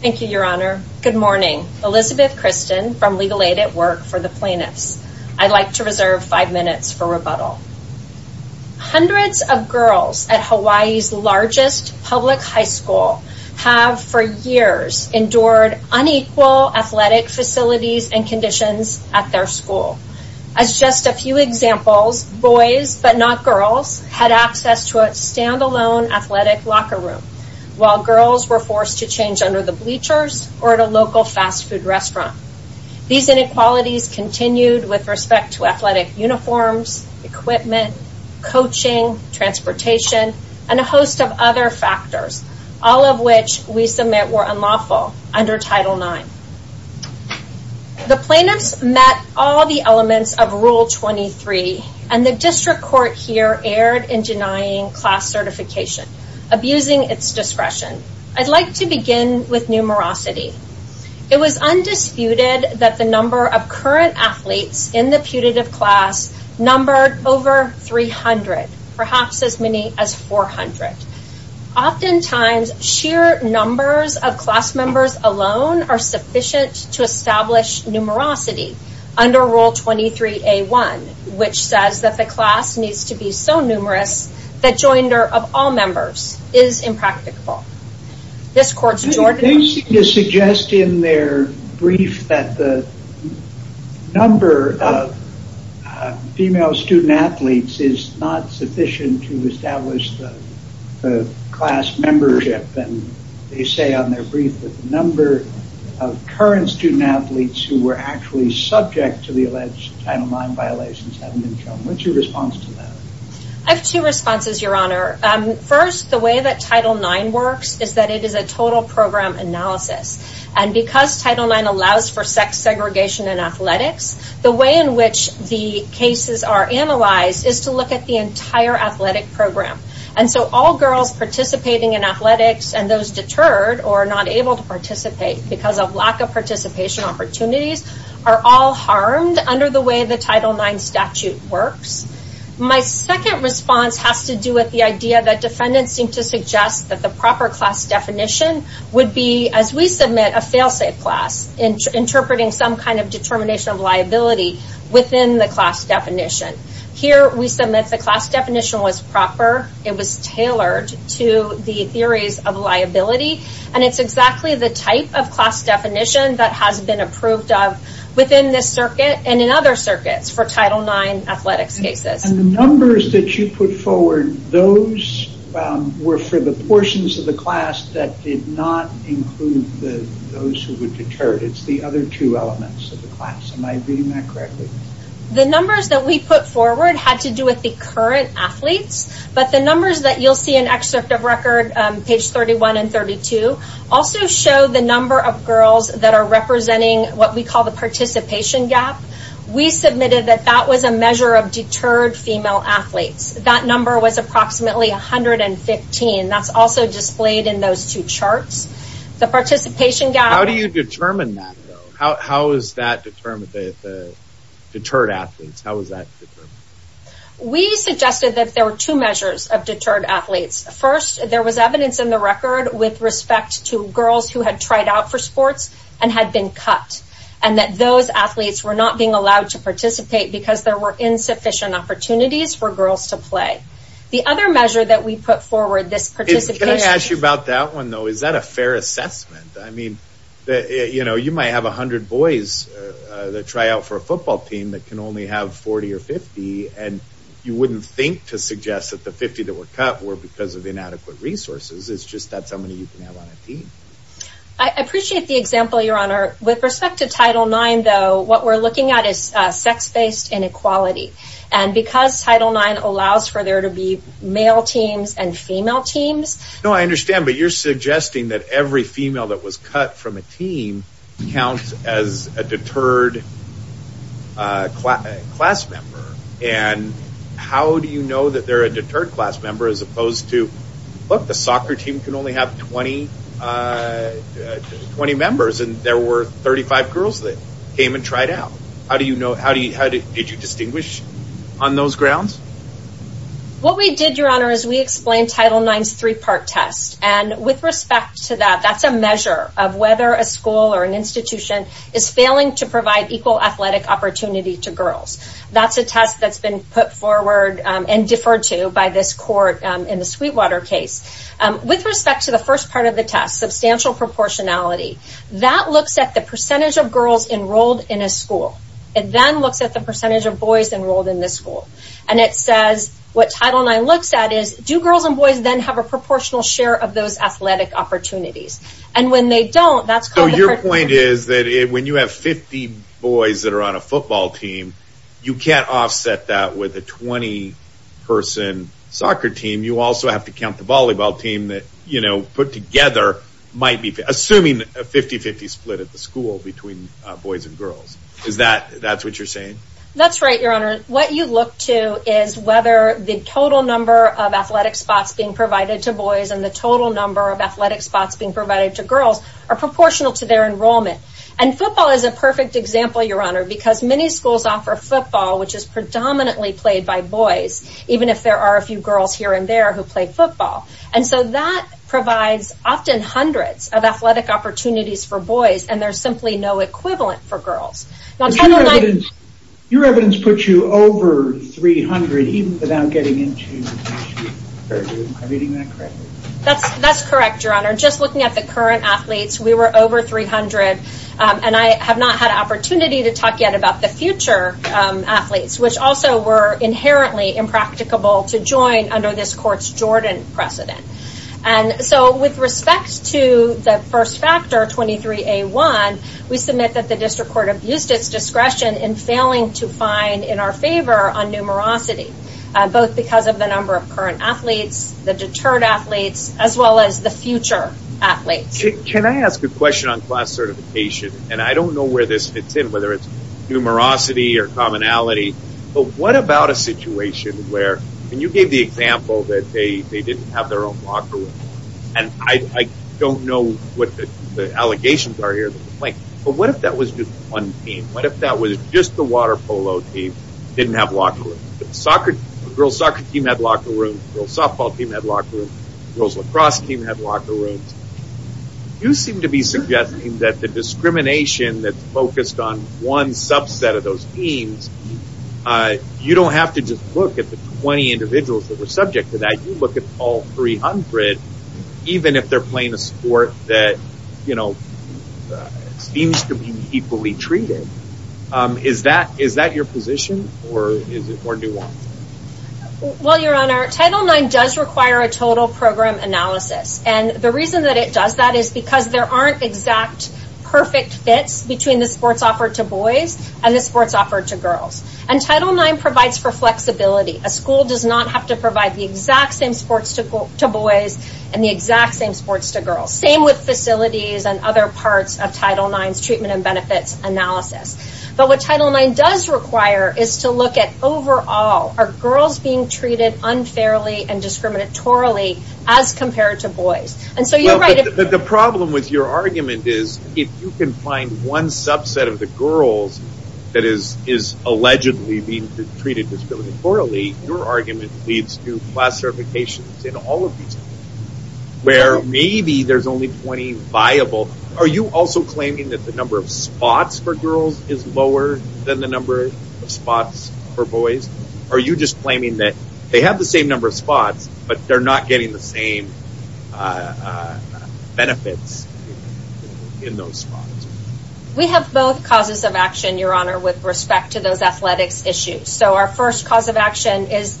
Thank you, Your Honor. Good morning. Elizabeth Kristen from Legal Aid at Work for the Plaintiffs. I'd like to reserve five minutes for rebuttal. Hundreds of girls at Hawaii's largest public high school have, for years, endured unequal athletic facilities and conditions at their school. As just a few examples, boys, but not girls, had access to a stand-alone athletic locker room, while girls were forced to change under the bleachers or at a local fast food restaurant. These inequalities continued with respect to athletic uniforms, equipment, coaching, transportation, and a host of other factors, all of which we submit were unlawful under Title IX. The plaintiffs met all the elements of Rule 23, and the district court here erred in denying class certification, abusing its discretion. I'd like to begin with numerosity. It was undisputed that the number of current athletes in the putative class numbered over 300, perhaps as many as 400. Oftentimes, sheer numbers of class members alone are sufficient to establish numerosity under Rule 23A1, which says that the class needs to be so numerous that joinder of all members is impracticable. This court's Jordan... They seem to suggest in their brief that the number of female student athletes is not sufficient to establish the class membership, and they say on their brief that the number of current student athletes who were actually subject to the alleged Title IX violations haven't been shown. What's your response to that? I have two responses, Your Honor. First, the way that Title IX works is that it is a total program analysis, and because Title IX allows for sex segregation in athletics, the way in which the cases are analyzed is to look at the entire athletic program. All girls participating in athletics and those deterred or not able to participate because of lack of participation opportunities are all harmed under the way the Title IX statute works. My second response has to do with the idea that defendants seem to suggest that the proper class definition would be, as we submit a fail-safe class, interpreting some kind of determination of liability within the class definition. Here we submit the class definition was proper, it was tailored to the theories of liability, and it's exactly the type of class definition that has been approved of within this circuit and in other circuits for Title IX athletics cases. The numbers that you put forward, those were for the portions of the class that did not include those who were deterred. It's the other two elements of the class. Am I reading that correctly? The numbers that we put forward had to do with the current athletes, but the numbers that you'll see in excerpt of record, page 31 and 32, also show the number of girls that are representing what we call the participation gap. We submitted that that was a measure of deterred female athletes. That number was approximately 115. That's also displayed in those two charts. The participation gap... How do you determine that though? How is that determined, the deterred athletes, how is that determined? We suggested that there were two measures of deterred athletes. First, there was evidence in the record with respect to girls who had tried out for sports and had been cut, and that those athletes were not being allowed to participate because there were insufficient opportunities for girls to play. The other measure that we put forward, this participation... Can I ask you about that one though? Is that a fair assessment? I mean, you know, you might have 100 boys that try out for a football team that can only have 40 or 50, and you wouldn't think to suggest that the 50 that were cut were because of inadequate resources. It's just that's how many you can have on a team. I appreciate the example, Your Honor. With respect to Title IX though, what we're looking at is sex-based inequality. And because Title IX allows for there to be male teams and female teams... No, I understand, but you're suggesting that every female that was cut from a team counts as a deterred class member, and how do you know that they're a deterred class member as opposed to, look, the soccer team can only have 20 members, and there were 35 girls that came and tried out. How do you know... How do you... Did you distinguish on those grounds? What we did, Your Honor, is we explained Title IX's three-part test. And with respect to that, that's a measure of whether a school or an institution is failing to provide equal athletic opportunity to girls. That's a test that's been put forward and deferred to by this court in the Sweetwater case. With respect to the first part of the test, substantial proportionality, that looks at the percentage of girls enrolled in a school. It then looks at the percentage of boys enrolled in the school. And it says, what Title IX looks at is, do girls and boys then have a proportional share of those athletic opportunities? And when they don't, that's called... So your point is that when you have 50 boys that are on a football team, you can't offset that with a 20-person soccer team. You also have to count the volleyball team that, you know, put together might be... Assuming a 50-50 split at the school between boys and girls. Is that... That's what you're saying? That's right, Your Honor. What you look to is whether the total number of athletic spots being provided to boys and the total number of athletic spots being provided to girls are proportional to their enrollment. And football is a perfect example, Your Honor, because many schools offer football, which is predominantly played by boys, even if there are a few girls here and there who play football. And so that provides often hundreds of athletic opportunities for boys. And there's simply no equivalent for girls. Your evidence puts you over 300, even without getting into... Am I reading that correctly? That's correct, Your Honor. Just looking at the current athletes, we were over 300. And I have not had an opportunity to talk yet about the future athletes, which also were inherently impracticable to join under this court's Jordan precedent. And so with respect to the first factor, 23A1, we submit that the district court abused its discretion in failing to find in our favor a numerosity, both because of the number of current athletes, the deterred athletes, as well as the future athletes. Can I ask a question on class certification? And I don't know where this fits in, whether it's numerosity or commonality, but what about a And I don't know what the allegations are here. But what if that was just one team? What if that was just the water polo team that didn't have locker rooms? The girls' soccer team had locker rooms. The girls' softball team had locker rooms. The girls' lacrosse team had locker rooms. You seem to be suggesting that the discrimination that's focused on one subset of those teams, you don't have to just look at the 20 individuals that were subject to that. You look at all 300, even if they're playing a sport that, you know, seems to be equally treated. Is that your position? Or do I? Well, Your Honor, Title IX does require a total program analysis. And the reason that it does that is because there aren't exact, perfect fits between the sports offered to boys and the sports offered to girls. And Title IX provides for flexibility. A school does not have to provide the exact same sports to boys and the exact same sports to girls. Same with facilities and other parts of Title IX's treatment and benefits analysis. But what Title IX does require is to look at overall, are girls being treated unfairly and discriminatorily as compared to boys? And so you're right. But the problem with your argument is if you can find one subset of the girls that is allegedly being treated discriminatorily, your argument leads to class certifications in all of these teams, where maybe there's only 20 viable. Are you also claiming that the number of spots for girls is lower than the number of spots for boys? Are you just claiming that they have the same number of spots, but they're not getting the same benefits in those spots? We have both causes of action, Your Honor, with respect to those athletics issues. So our first cause of action is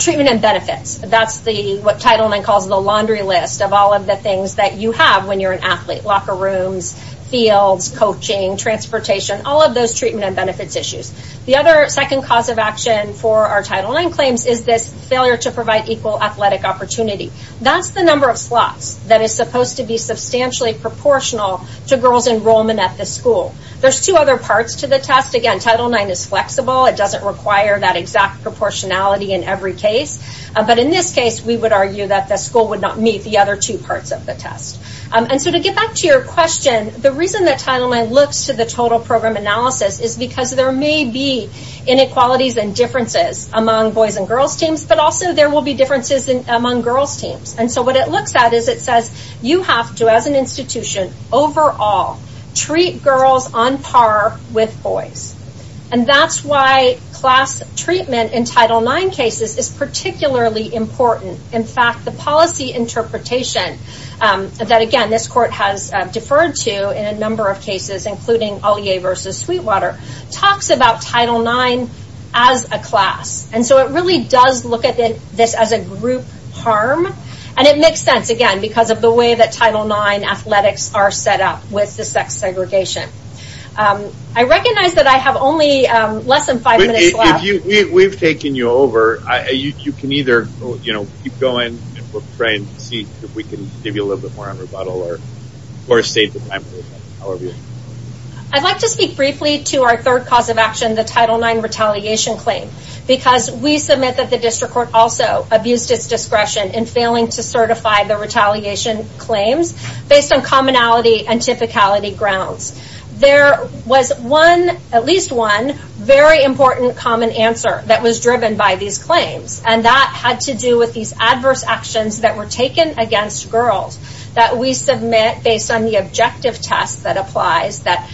treatment and benefits. That's what Title IX calls the laundry list of all of the things that you have when you're an athlete. Locker rooms, fields, coaching, transportation, all of those treatment and benefits issues. The other second cause of action for our Title IX claims is this failure to provide equal athletic opportunity. That's the number of slots that is supposed to be substantially proportional to girls' enrollment at the school. There's two other parts to the test. Again, Title IX is flexible. It doesn't require that exact proportionality in every case. But in this case, we would argue that the school would not meet the other two parts of the test. And so to get back to your question, the reason that Title IX looks to the total program analysis is because there may be inequalities and differences among boys' and girls' teams, but also there will be differences among girls' teams. And so what it looks at is it says you have to, as an institution, overall treat girls on par with boys. And that's why class treatment in Title IX cases is particularly important. In fact, the policy interpretation that, again, this court has deferred to in a number of cases, including Ollier v. Sweetwater, talks about Title IX as a class. And so it really does look at this as a group harm. And it makes sense, again, because of the way that Title IX athletics are set up with the sex segregation. I recognize that I have only less than five minutes left. We've taken you over. You can either keep going and we'll try and see if we can give you a little bit more on rebuttal or save the time. I'd like to speak briefly to our third cause of action, the Title IX retaliation claim. Because we submit that the district court also abused its discretion in failing to certify the retaliation claims based on commonality and typicality grounds. There was one, at least one, very important common answer that was driven by these claims. And that had to do with these adverse actions that were taken against girls that we submit based on the objective test that applies that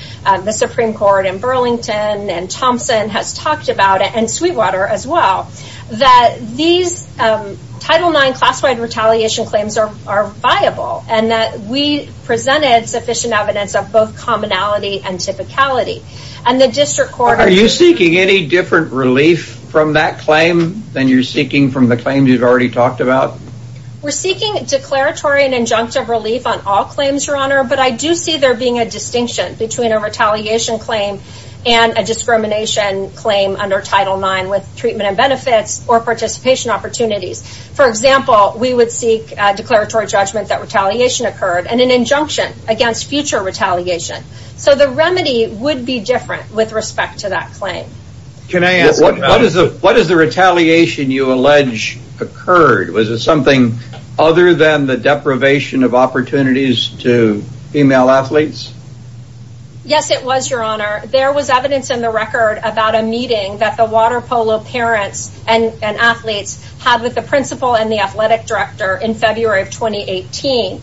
the Supreme Court in Burlington and Thompson has talked about. And Sweetwater as well. That these Title IX class-wide retaliation claims are viable. And that we presented sufficient evidence of both commonality and typicality. And the district court... Are you seeking any different relief from that claim than you're seeking from the claims you've already talked about? We're seeking declaratory and injunctive relief on all claims, Your Honor. But I do see there being a distinction between a retaliation claim and a discrimination claim under Title IX with treatment and benefits or participation opportunities. For example, we would seek declaratory judgment that retaliation occurred and an injunction against future retaliation. So the remedy would be different with respect to that claim. What is the retaliation you allege occurred? Was it something other than the deprivation of opportunities to female athletes? Yes, it was, Your Honor. There was evidence in the record about a meeting that the water polo parents and athletes had with the principal and the athletic director in February of 2018.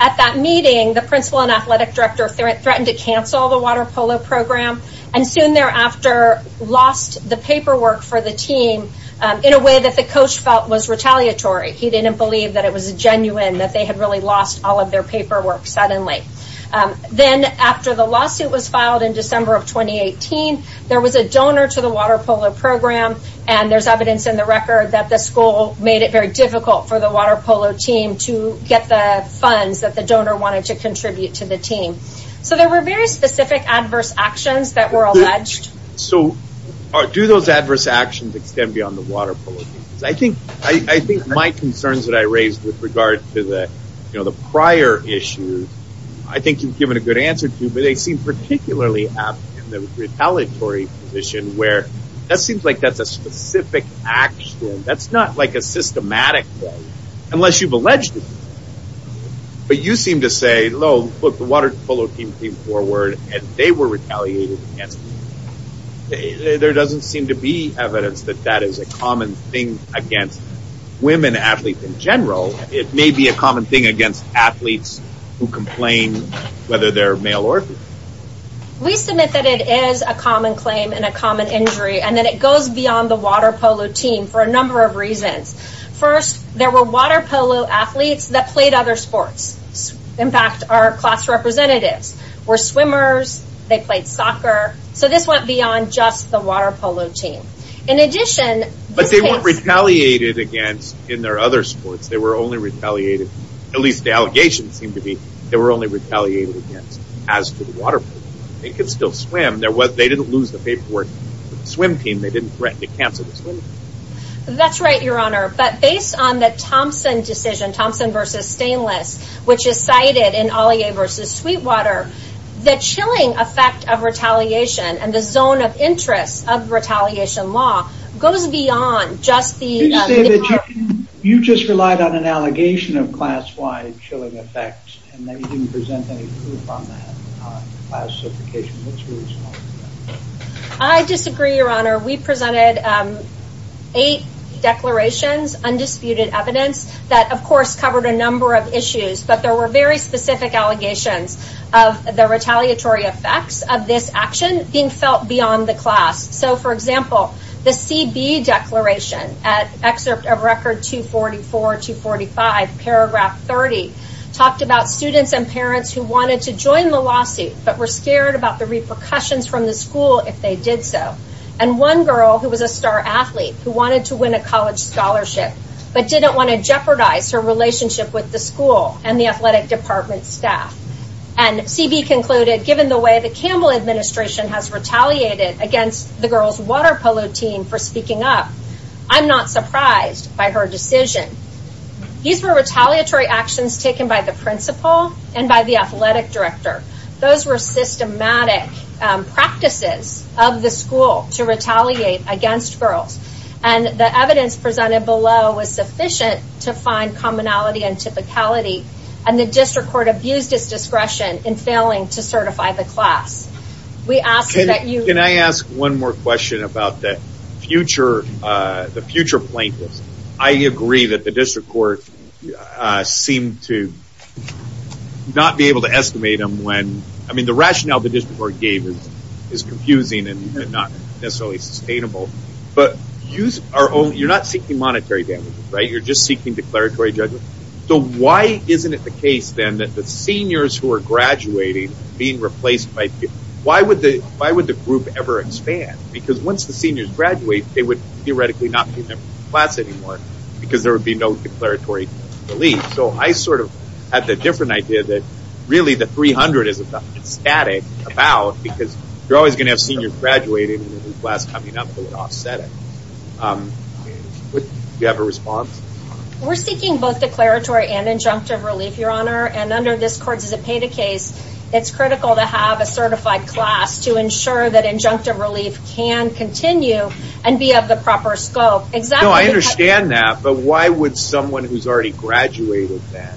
At that meeting, the principal and athletic director threatened to cancel the water polo program and soon thereafter lost the paperwork for the team in a way that the coach felt was retaliatory. He didn't believe that it was genuine, that they had really lost all of their paperwork suddenly. Then after the lawsuit was filed in December of 2018, there was a donor to the water polo program. And there's evidence in the record that the school made it very difficult for the water polo team to get the funds that the donor wanted to contribute to the team. So there were very specific adverse actions that were alleged. So do those adverse actions extend beyond the water polo team? Because I think my concerns that I raised with regard to the prior issues, I think you've given a good answer to, but they seem particularly apt in the retaliatory position where that seems like that's a specific action. That's not like a systematic way unless you've alleged it. But you seem to say, look, the water polo team came forward and they were retaliated against. There doesn't seem to be evidence that that is a common thing against women athletes in general. It may be a common thing against athletes who complain whether they're male or female. We submit that it is a common claim and a common injury, and that it goes beyond the water polo team for a number of reasons. First, there were water polo athletes that played other sports. In fact, our class representatives were swimmers. They played soccer. So this went beyond just the water polo team. But they weren't retaliated against in their other sports. They were only retaliated, at least the allegations seem to be, they were only retaliated against as to the water polo team. They could still swim. They didn't lose the paperwork for the swim team. They didn't threaten to cancel the swim team. That's right, Your Honor. But based on the Thompson decision, Thompson v. Stainless, which is cited in Ollier v. Sweetwater, the chilling effect of retaliation and the zone of interest of retaliation law goes beyond just the... Did you say that you just relied on an allegation of class-wide chilling effect and that you didn't present any proof on that classification? What's your response to that? I disagree, Your Honor. We presented eight declarations, undisputed evidence, that, of course, covered a number of issues. But there were very specific allegations of the retaliatory effects of this action being felt beyond the class. So, for example, the CB declaration at Excerpt of Record 244-245, Paragraph 30, talked about students and parents who wanted to join the lawsuit but were scared about the repercussions from the school if they did so. And one girl who was a star athlete who wanted to win a college scholarship but didn't want to jeopardize her relationship with the school and the athletic department staff. And CB concluded, given the way the Campbell administration has retaliated against the girls' water polo team for speaking up, I'm not surprised by her decision. These were retaliatory actions taken by the principal and by the athletic director. Those were systematic practices of the school to retaliate against girls. And the evidence presented below was sufficient to find commonality and typicality. And the district court abused its discretion in failing to certify the class. Can I ask one more question about the future plaintiffs? I agree that the district court seemed to not be able to estimate them when – I mean, the rationale the district court gave is confusing and not necessarily sustainable. But you're not seeking monetary damages, right? You're just seeking declaratory judgment. So why isn't it the case then that the seniors who are graduating, being replaced by – why would the group ever expand? Because once the seniors graduate, they would theoretically not be in their class anymore because there would be no declaratory relief. So I sort of had the different idea that really the 300 is static about because you're always going to have seniors graduating and a new class coming up that would offset it. Do you have a response? We're seeking both declaratory and injunctive relief, Your Honor. And under this court's Zepeda case, it's critical to have a certified class to ensure that injunctive relief can continue and be of the proper scope. No, I understand that, but why would someone who's already graduated then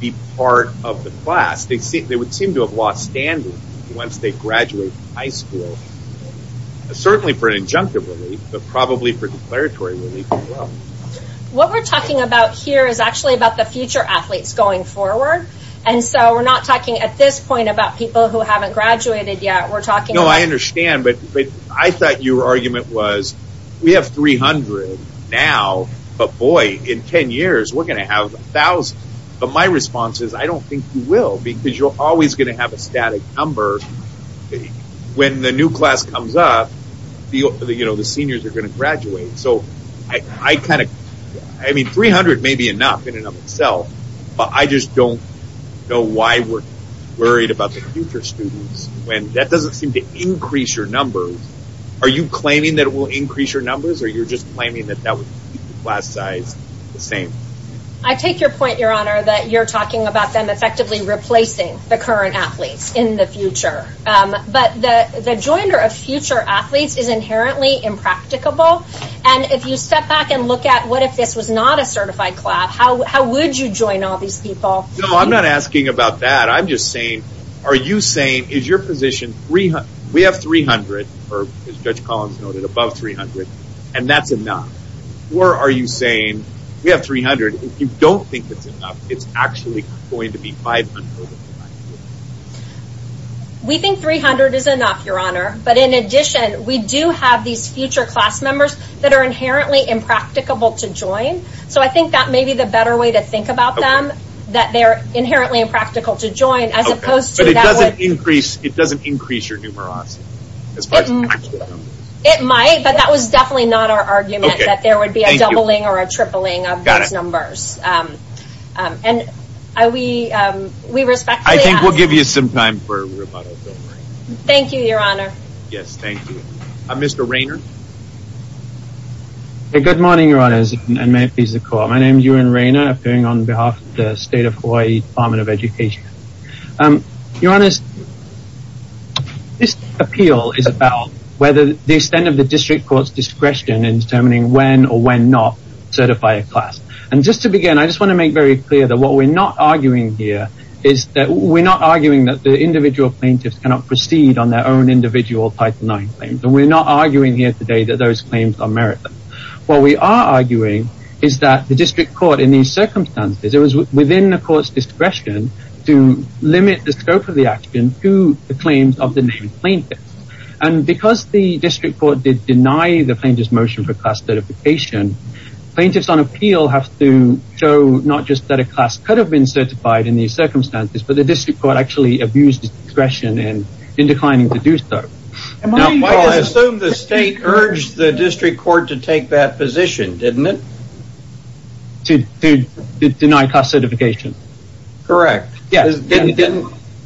be part of the class? They would seem to have lost standard once they graduate high school, certainly for an injunctive relief, but probably for declaratory relief as well. What we're talking about here is actually about the future athletes going forward. And so we're not talking at this point about people who haven't graduated yet. No, I understand, but I thought your argument was we have 300 now, but boy, in 10 years we're going to have 1,000. But my response is I don't think you will because you're always going to have a static number. When the new class comes up, the seniors are going to graduate. So 300 may be enough in and of itself, but I just don't know why we're worried about the future students when that doesn't seem to increase your numbers. Are you claiming that it will increase your numbers, or you're just claiming that that would keep the class size the same? I take your point, Your Honor, that you're talking about them effectively replacing the current athletes in the future. But the joinder of future athletes is inherently impracticable, and if you step back and look at what if this was not a certified class, how would you join all these people? No, I'm not asking about that. I'm just saying are you saying is your position we have 300, or as Judge Collins noted, above 300, and that's enough? Or are you saying we have 300, and if you don't think it's enough, it's actually going to be 500? We think 300 is enough, Your Honor, but in addition we do have these future class members that are inherently impracticable to join, so I think that may be the better way to think about them, that they're inherently impractical to join. But it doesn't increase your numerosity? It might, but that was definitely not our argument, that there would be a doubling or a tripling of these numbers. Got it. And we respectfully ask... I think we'll give you some time for rebuttal, if you don't mind. Thank you, Your Honor. Yes, thank you. Mr. Rayner? Good morning, Your Honors, and may it please the Court. My name is Ewan Rayner, appearing on behalf of the State of Hawaii Department of Education. Your Honors, this appeal is about whether the extent of the district court's discretion in determining when or when not to certify a class. And just to begin, I just want to make very clear that what we're not arguing here is that we're not arguing that the individual plaintiffs cannot proceed on their own individual Title IX claims. And we're not arguing here today that those claims are meritless. What we are arguing is that the district court, in these circumstances, it was within the court's discretion to limit the scope of the action to the claims of the named plaintiffs. And because the district court did deny the plaintiff's motion for class certification, plaintiffs on appeal have to show not just that a class could have been certified in these circumstances, but the district court actually abused its discretion in declining to do so. I assume the state urged the district court to take that position, didn't it? To deny class certification. Correct. Yes.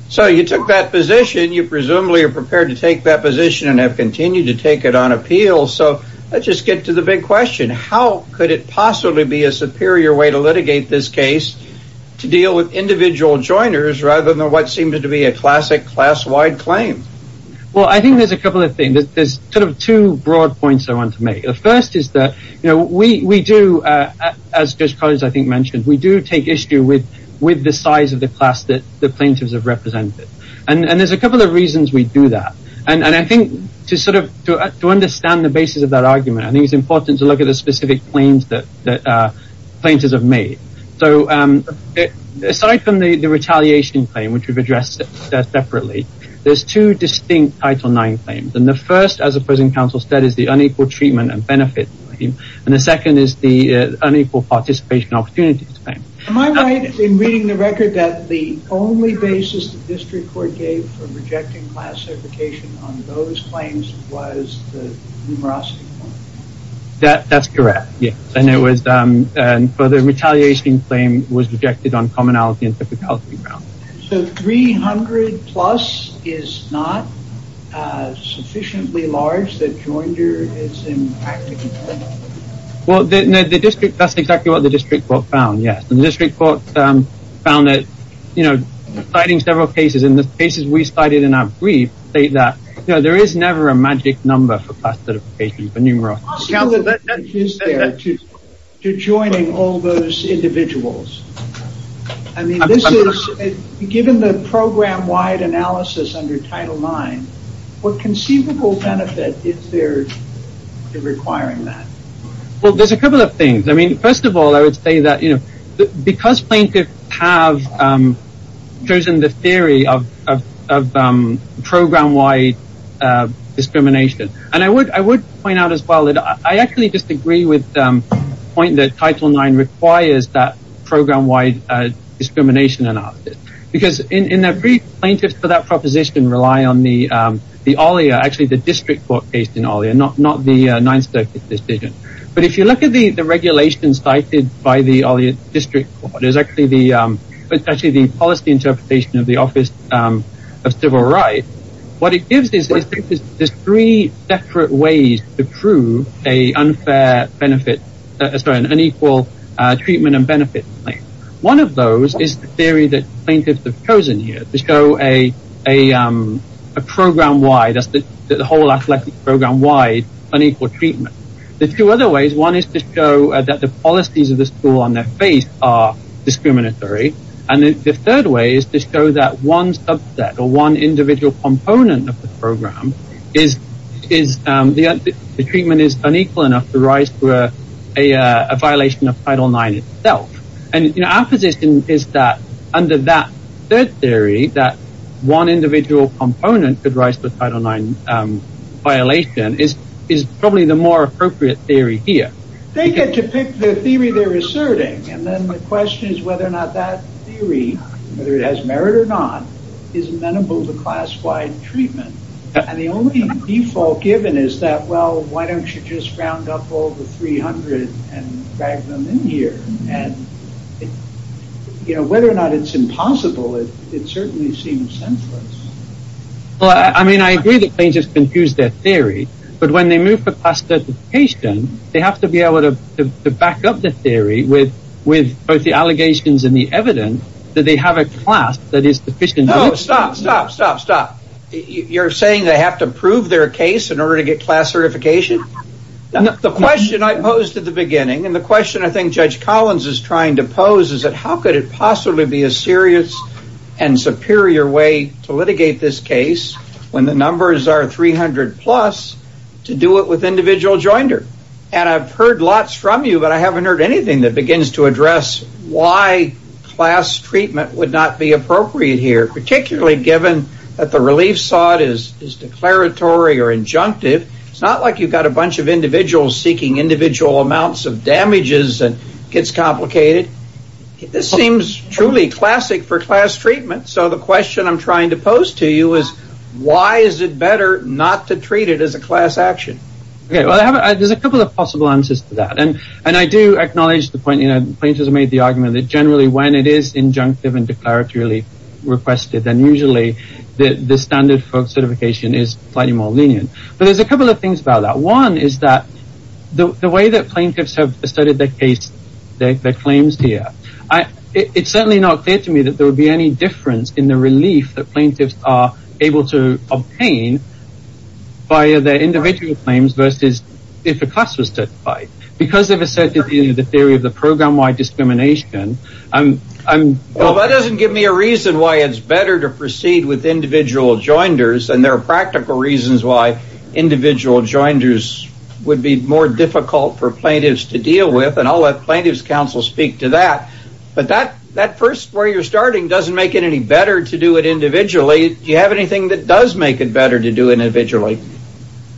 So you took that position, you presumably are prepared to take that position and have continued to take it on appeal. So let's just get to the big question. How could it possibly be a superior way to litigate this case to deal with individual joiners rather than what seems to be a classic class-wide claim? Well, I think there's a couple of things. There's two broad points I want to make. The first is that we do, as Judge Collins I think mentioned, we do take issue with the size of the class that the plaintiffs have represented. And there's a couple of reasons we do that. And I think to understand the basis of that argument, I think it's important to look at the specific claims that plaintiffs have made. So aside from the retaliation claim, which we've addressed separately, there's two distinct Title IX claims. And the first, as the present counsel said, is the unequal treatment and benefit claim. And the second is the unequal participation opportunities claim. Am I right in reading the record that the only basis the district court gave for rejecting class certification on those claims was the numerosity claim? That's correct, yes. And the retaliation claim was rejected on commonality and typicality grounds. So 300 plus is not sufficiently large that joiner is impacted? Well, that's exactly what the district court found, yes. And the district court found that, you know, citing several cases, and the cases we cited in our brief state that there is never a magic number for class certification for numerosity. The possibility is there to joining all those individuals. I mean, this is, given the program-wide analysis under Title IX, what conceivable benefit is there in requiring that? Well, there's a couple of things. I mean, first of all, I would say that, you know, because plaintiffs have chosen the theory of program-wide discrimination, and I would point out as well that I actually disagree with the point that Title IX requires that program-wide discrimination analysis. Because in a brief, plaintiffs for that proposition rely on the OLEA, actually the district court case in OLEA, not the 9th Circuit decision. But if you look at the regulation cited by the OLEA district court, it's actually the policy interpretation of the Office of Civil Rights. What it gives is there's three separate ways to prove an unfair benefit, sorry, an unequal treatment and benefit claim. One of those is the theory that plaintiffs have chosen here to show a program-wide, the whole athletic program-wide unequal treatment. There's two other ways. One is to show that the policies of the school on their face are discriminatory. And the third way is to show that one subset or one individual component of the program is, the treatment is unequal enough to rise to a violation of Title IX itself. And, you know, our position is that under that third theory that one individual component could rise to a Title IX violation is probably the more appropriate theory here. They get to pick the theory they're asserting. And then the question is whether or not that theory, whether it has merit or not, is amenable to class-wide treatment. And the only default given is that, well, why don't you just round up all the 300 and drag them in here? And, you know, whether or not it's impossible, it certainly seems senseless. Well, I mean, I agree that plaintiffs can choose their theory. But when they move for class certification, they have to be able to back up the theory with both the allegations and the evidence that they have a class that is sufficient. No, stop, stop, stop, stop. You're saying they have to prove their case in order to get class certification? The question I posed at the beginning and the question I think Judge Collins is trying to pose is that how could it possibly be a serious and superior way to litigate this case when the numbers are 300 plus to do it with individual joinder? And I've heard lots from you, but I haven't heard anything that begins to address why class treatment would not be appropriate here, particularly given that the relief sought is declaratory or injunctive. It's not like you've got a bunch of individuals seeking individual amounts of damages and it gets complicated. This seems truly classic for class treatment. So the question I'm trying to pose to you is why is it better not to treat it as a class action? Well, there's a couple of possible answers to that. And I do acknowledge the point, you know, plaintiffs made the argument that generally when it is injunctive and declaratorily requested, then usually the standard for certification is slightly more lenient. But there's a couple of things about that. One is that the way that plaintiffs have studied their case, their claims here, it's certainly not clear to me that there would be any difference in the relief that plaintiffs are able to obtain by their individual claims versus if a class was certified. Well, that doesn't give me a reason why it's better to proceed with individual joinders. And there are practical reasons why individual joinders would be more difficult for plaintiffs to deal with. And I'll let plaintiffs' counsel speak to that. But that first where you're starting doesn't make it any better to do it individually. Do you have anything that does make it better to do it individually?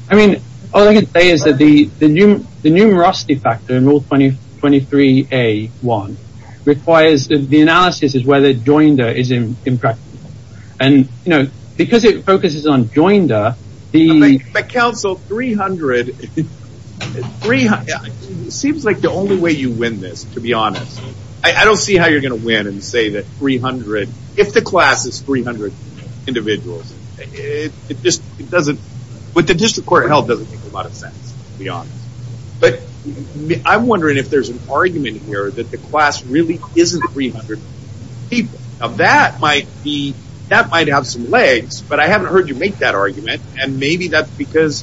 I mean, all I can say is that the numerosity factor in Rule 23A.1 requires the analysis of whether joinder is impractical. And, you know, because it focuses on joinder, the... It seems like the only way you win this, to be honest. I don't see how you're going to win and say that 300... If the class is 300 individuals, it just doesn't... With the District Court of Health, it doesn't make a lot of sense, to be honest. But I'm wondering if there's an argument here that the class really isn't 300 people. Now, that might have some legs, but I haven't heard you make that argument. And maybe that's because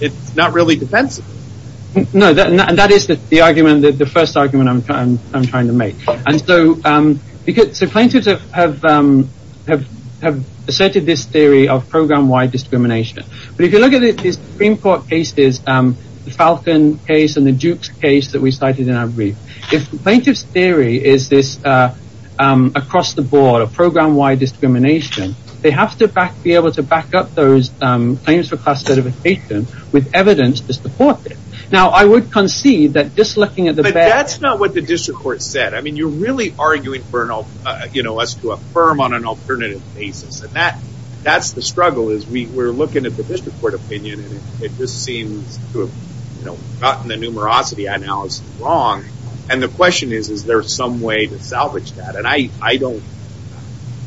it's not really defensive. No, and that is the argument, the first argument I'm trying to make. And so plaintiffs have asserted this theory of program-wide discrimination. But if you look at these Supreme Court cases, the Falcon case and the Dukes case that we cited in our brief, if the plaintiff's theory is this across-the-board, a program-wide discrimination, they have to be able to back up those claims for class certification with evidence to support it. Now, I would concede that just looking at the... But that's not what the District Court said. I mean, you're really arguing for us to affirm on an alternative basis. And that's the struggle, is we're looking at the District Court opinion, and it just seems to have gotten the numerosity analysis wrong. And the question is, is there some way to salvage that? And I don't...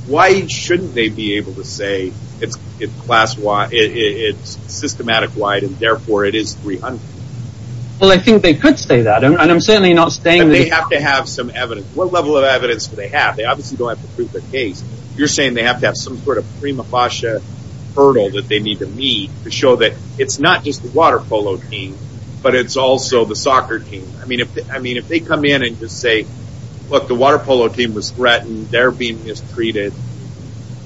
Why shouldn't they be able to say it's systematic-wide and therefore it is 300? Well, I think they could say that, and I'm certainly not saying that... But they have to have some evidence. What level of evidence do they have? They obviously don't have to prove their case. You're saying they have to have some sort of prima facie hurdle that they need to meet to show that it's not just the water polo team, but it's also the soccer team. I mean, if they come in and just say, look, the water polo team was threatened, they're being mistreated,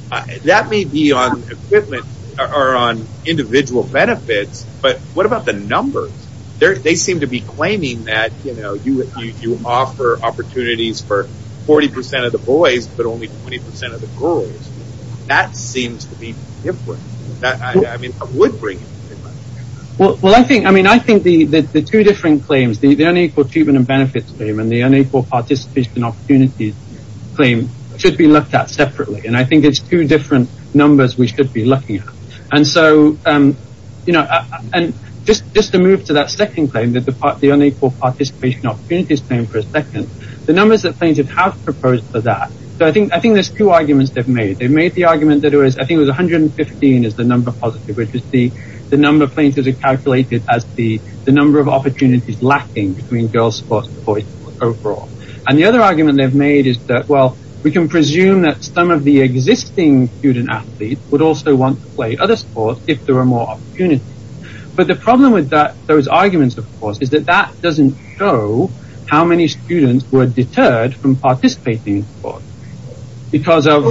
that may be on equipment or on individual benefits, but what about the numbers? They seem to be claiming that you offer opportunities for 40% of the boys, but only 20% of the girls. That seems to be different. I mean, I would bring it up. Well, I think the two different claims, the unequal treatment and benefits claim and the unequal participation opportunities claim, should be looked at separately. And I think it's two different numbers we should be looking at. And just to move to that second claim, the unequal participation opportunities claim for a second, the numbers that plaintiffs have proposed for that, I think there's two arguments they've made. They've made the argument that I think it was 115 is the number positive, which is the number plaintiffs have calculated as the number of opportunities lacking between girls sports and boys sports overall. And the other argument they've made is that, well, we can presume that some of the existing student athletes would also want to play other sports if there were more opportunities. But the problem with those arguments, of course, is that that doesn't show how many students were deterred from participating in sports because of...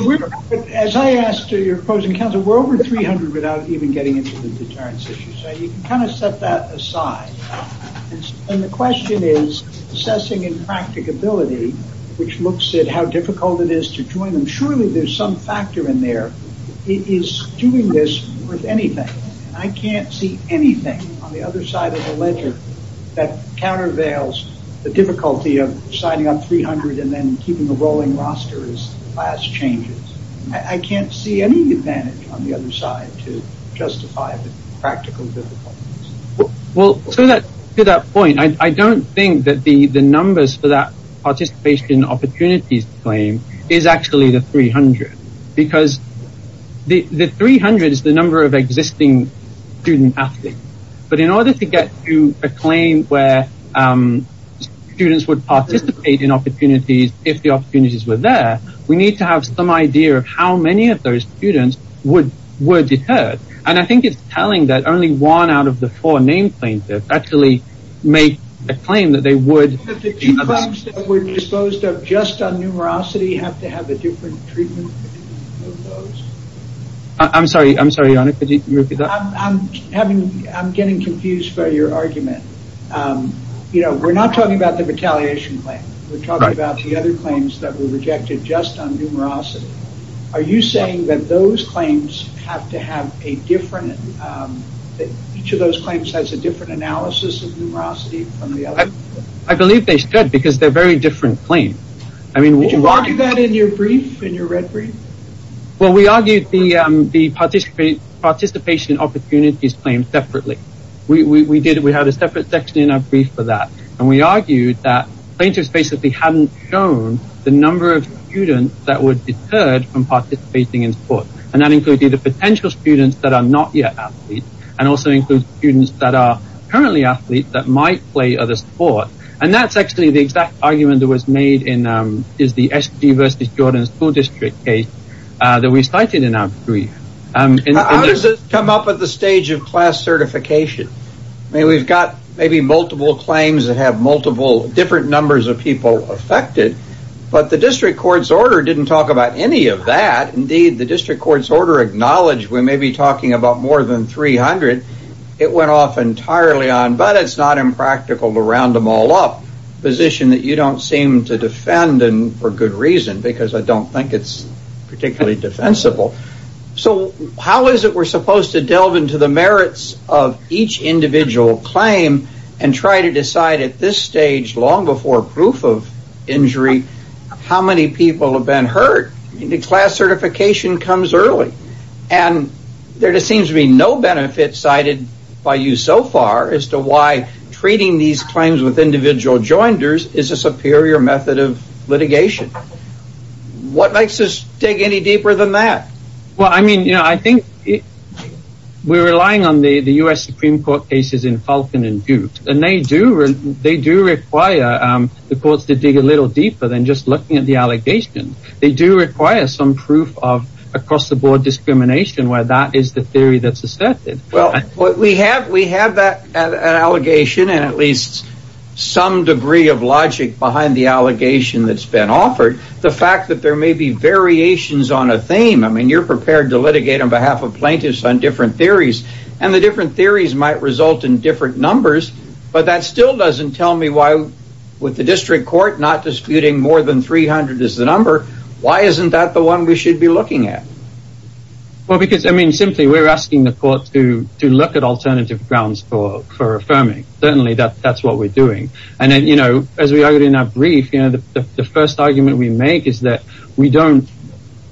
As I asked your opposing counsel, we're over 300 without even getting into the deterrence issue. So you can kind of set that aside. And the question is assessing impracticability, which looks at how difficult it is to join them. It is doing this with anything. I can't see anything on the other side of the ledger that countervails the difficulty of signing on 300 and then keeping a rolling roster as class changes. I can't see any advantage on the other side to justify the practical difficulties. Well, to that point, I don't think that the numbers for that participation opportunities claim is actually the 300, because the 300 is the number of existing student athletes. But in order to get to a claim where students would participate in opportunities if the opportunities were there, we need to have some idea of how many of those students were deterred. And I think it's telling that only one out of the four named plaintiffs actually make a claim that they would... Do you think that the two claims that were disposed of just on numerosity have to have a different treatment? I'm sorry. I'm sorry, Your Honor. Could you repeat that? I'm getting confused by your argument. You know, we're not talking about the retaliation claim. We're talking about the other claims that were rejected just on numerosity. Are you saying that those claims have to have a different... I believe they should, because they're very different claims. Did you argue that in your brief, in your red brief? Well, we argued the participation opportunities claim separately. We had a separate section in our brief for that. And we argued that plaintiffs basically hadn't shown the number of students that were deterred from participating in sports. And that included the potential students that are not yet athletes, and also included students that are currently athletes that might play other sports. And that's actually the exact argument that was made in the SD versus Jordan School District case that we cited in our brief. How does this come up at the stage of class certification? I mean, we've got maybe multiple claims that have multiple different numbers of people affected. But the district court's order didn't talk about any of that. Indeed, the district court's order acknowledged we may be talking about more than 300. It went off entirely on, but it's not impractical to round them all up, a position that you don't seem to defend, and for good reason, because I don't think it's particularly defensible. So how is it we're supposed to delve into the merits of each individual claim and try to decide at this stage, long before proof of injury, how many people have been hurt? I mean, the class certification comes early. And there just seems to be no benefit cited by you so far as to why treating these claims with individual joinders is a superior method of litigation. What makes us dig any deeper than that? Well, I mean, you know, I think we're relying on the U.S. Supreme Court cases in Falcon and Goot. And they do require the courts to dig a little deeper than just looking at the allegations. They do require some proof of across-the-board discrimination where that is the theory that's asserted. Well, we have that allegation and at least some degree of logic behind the allegation that's been offered. The fact that there may be variations on a theme, I mean, you're prepared to litigate on behalf of plaintiffs on different theories. And the different theories might result in different numbers. But that still doesn't tell me why, with the district court not disputing more than 300 as the number, why isn't that the one we should be looking at? Well, because, I mean, simply we're asking the court to look at alternative grounds for affirming. Certainly that's what we're doing. And, you know, as we argued in our brief, you know, the first argument we make is that we don't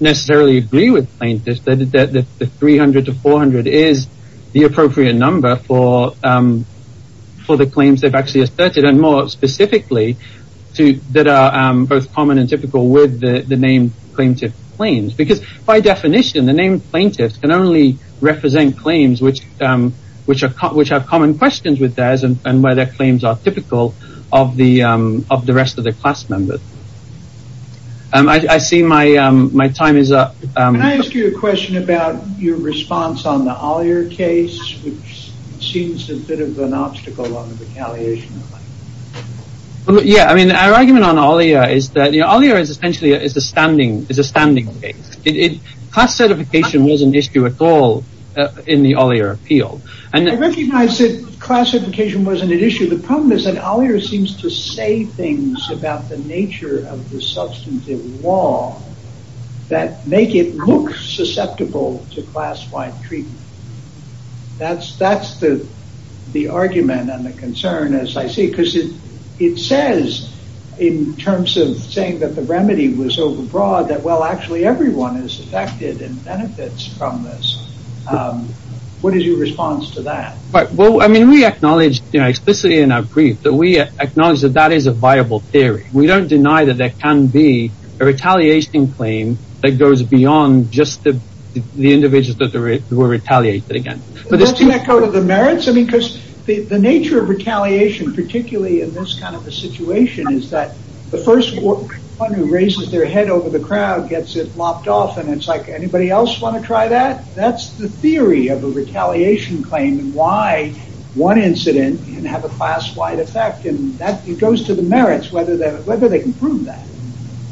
necessarily agree with plaintiffs that the 300 to 400 is the appropriate number for the claims they've actually asserted. And more specifically, that are both common and typical with the named plaintiff claims. Because by definition, the named plaintiffs can only represent claims which have common questions with theirs and where their claims are typical of the rest of the class members. I see my time is up. Can I ask you a question about your response on the Ollier case, which seems a bit of an obstacle on the retaliation? Yeah, I mean, our argument on Ollier is that Ollier is essentially a standing case. Class certification wasn't an issue at all in the Ollier appeal. I recognize that class certification wasn't an issue. The problem is that Ollier seems to say things about the nature of the substantive law that make it look susceptible to class-wide treatment. That's the argument and the concern, as I see. Because it says, in terms of saying that the remedy was over-broad, that, well, actually everyone is affected and benefits from this. What is your response to that? Well, I mean, we acknowledge, you know, explicitly in our brief, that we acknowledge that that is a viable theory. We don't deny that there can be a retaliation claim that goes beyond just the individuals that were retaliated against. Does that echo to the merits? I mean, because the nature of retaliation, particularly in this kind of a situation, is that the first one who raises their head over the crowd gets it lopped off and it's like, anybody else want to try that? That's the theory of a retaliation claim and why one incident can have a class-wide effect. It goes to the merits whether they can prove that.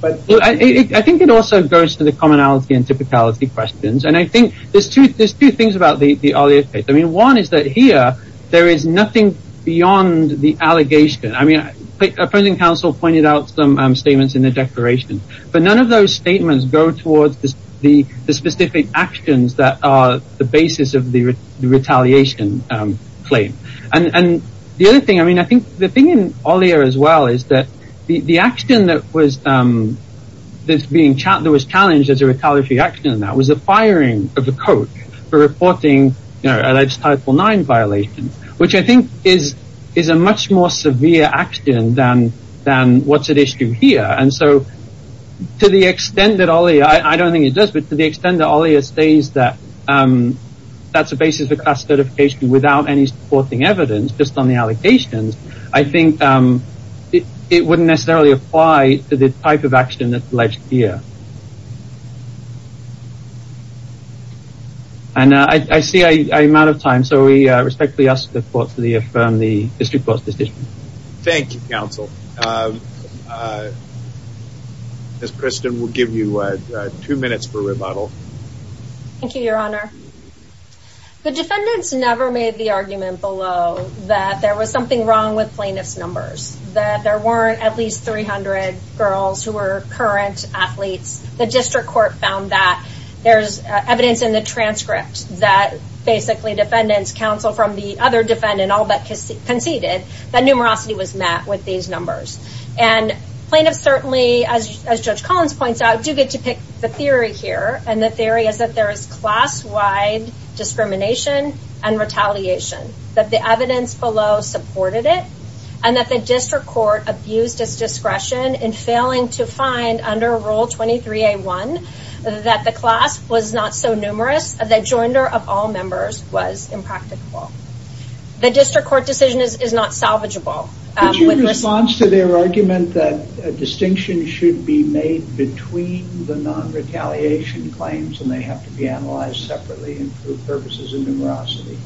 I think it also goes to the commonality and typicality questions. And I think there's two things about the Ollier case. One is that here there is nothing beyond the allegation. I mean, opposing counsel pointed out some statements in the declaration. But none of those statements go towards the specific actions that are the basis of the retaliation claim. And the other thing, I mean, I think the thing in Ollier as well is that the action that was challenged as a retaliatory action was the firing of the coach for reporting a Title IX violation, which I think is a much more severe action than what's at issue here. And so to the extent that Ollier, I don't think it does, but to the extent that Ollier states that that's a basis for class certification without any supporting evidence, just on the allegations, I think it wouldn't necessarily apply to the type of action that's alleged here. And I see I'm out of time, so we respectfully ask the court to affirm the district court's decision. Thank you, counsel. Ms. Preston, we'll give you two minutes for rebuttal. Thank you, Your Honor. The defendants never made the argument below that there was something wrong with plaintiff's numbers, that there weren't at least 300 girls who were current athletes. The district court found that there's evidence in the transcript that basically defendants counseled from the other defendant, and all but conceded that numerosity was met with these numbers. And plaintiffs certainly, as Judge Collins points out, do get to pick the theory here, and the theory is that there is class-wide discrimination and retaliation, that the evidence below supported it, and that the district court abused its discretion in failing to find under Rule 23A1 that the class was not so numerous that joinder of all members was impracticable. The district court decision is not salvageable. In response to their argument that a distinction should be made between the non-retaliation claims, and they have to be analyzed separately for purposes of numerosity.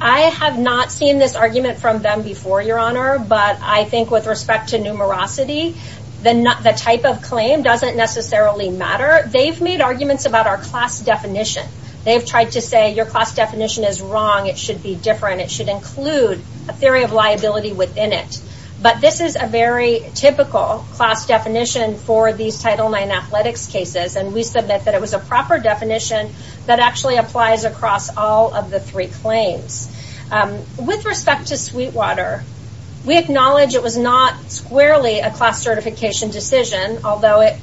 I have not seen this argument from them before, Your Honor, but I think with respect to numerosity, the type of claim doesn't necessarily matter. They've made arguments about our class definition. They've tried to say your class definition is wrong, it should be different, it should include a theory of liability within it. But this is a very typical class definition for these Title IX athletics cases, and we submit that it was a proper definition that actually applies across all of the three claims. With respect to Sweetwater, we acknowledge it was not squarely a class certification decision, although it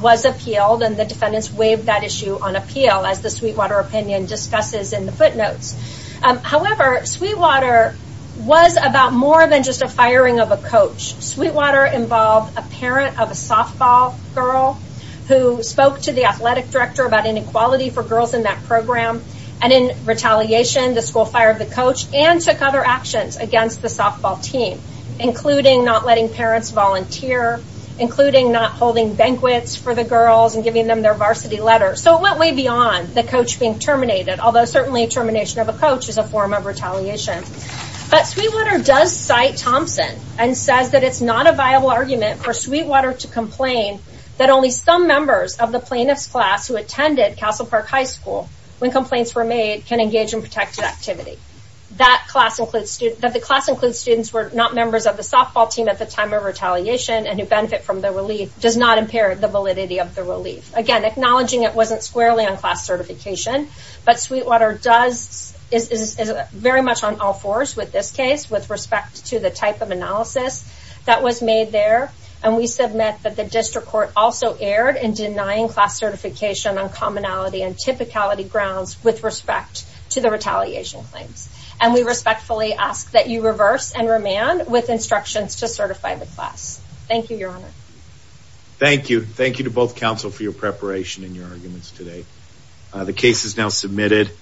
was appealed and the defendants waived that issue on appeal, as the Sweetwater opinion discusses in the footnotes. However, Sweetwater was about more than just a firing of a coach. Sweetwater involved a parent of a softball girl who spoke to the athletic director about inequality for girls in that program, and in retaliation the school fired the coach and took other actions against the softball team, including not letting parents volunteer, including not holding banquets for the girls and giving them their varsity letters. So it went way beyond the coach being terminated, although certainly termination of a coach is a form of retaliation. But Sweetwater does cite Thompson and says that it's not a viable argument for Sweetwater to complain that only some members of the plaintiff's class who attended Castle Park High School when complaints were made can engage in protected activity. That the class includes students who were not members of the softball team at the time of retaliation and who benefit from the relief does not impair the validity of the relief. Again, acknowledging it wasn't squarely on class certification, but Sweetwater is very much on all fours with this case with respect to the type of analysis that was made there, and we submit that the district court also erred in denying class certification on commonality and typicality grounds with respect to the retaliation claims. And we respectfully ask that you reverse and remand with instructions to certify the class. Thank you, Your Honor. Thank you. Thank you to both counsel for your preparation and your arguments today. The case is now submitted.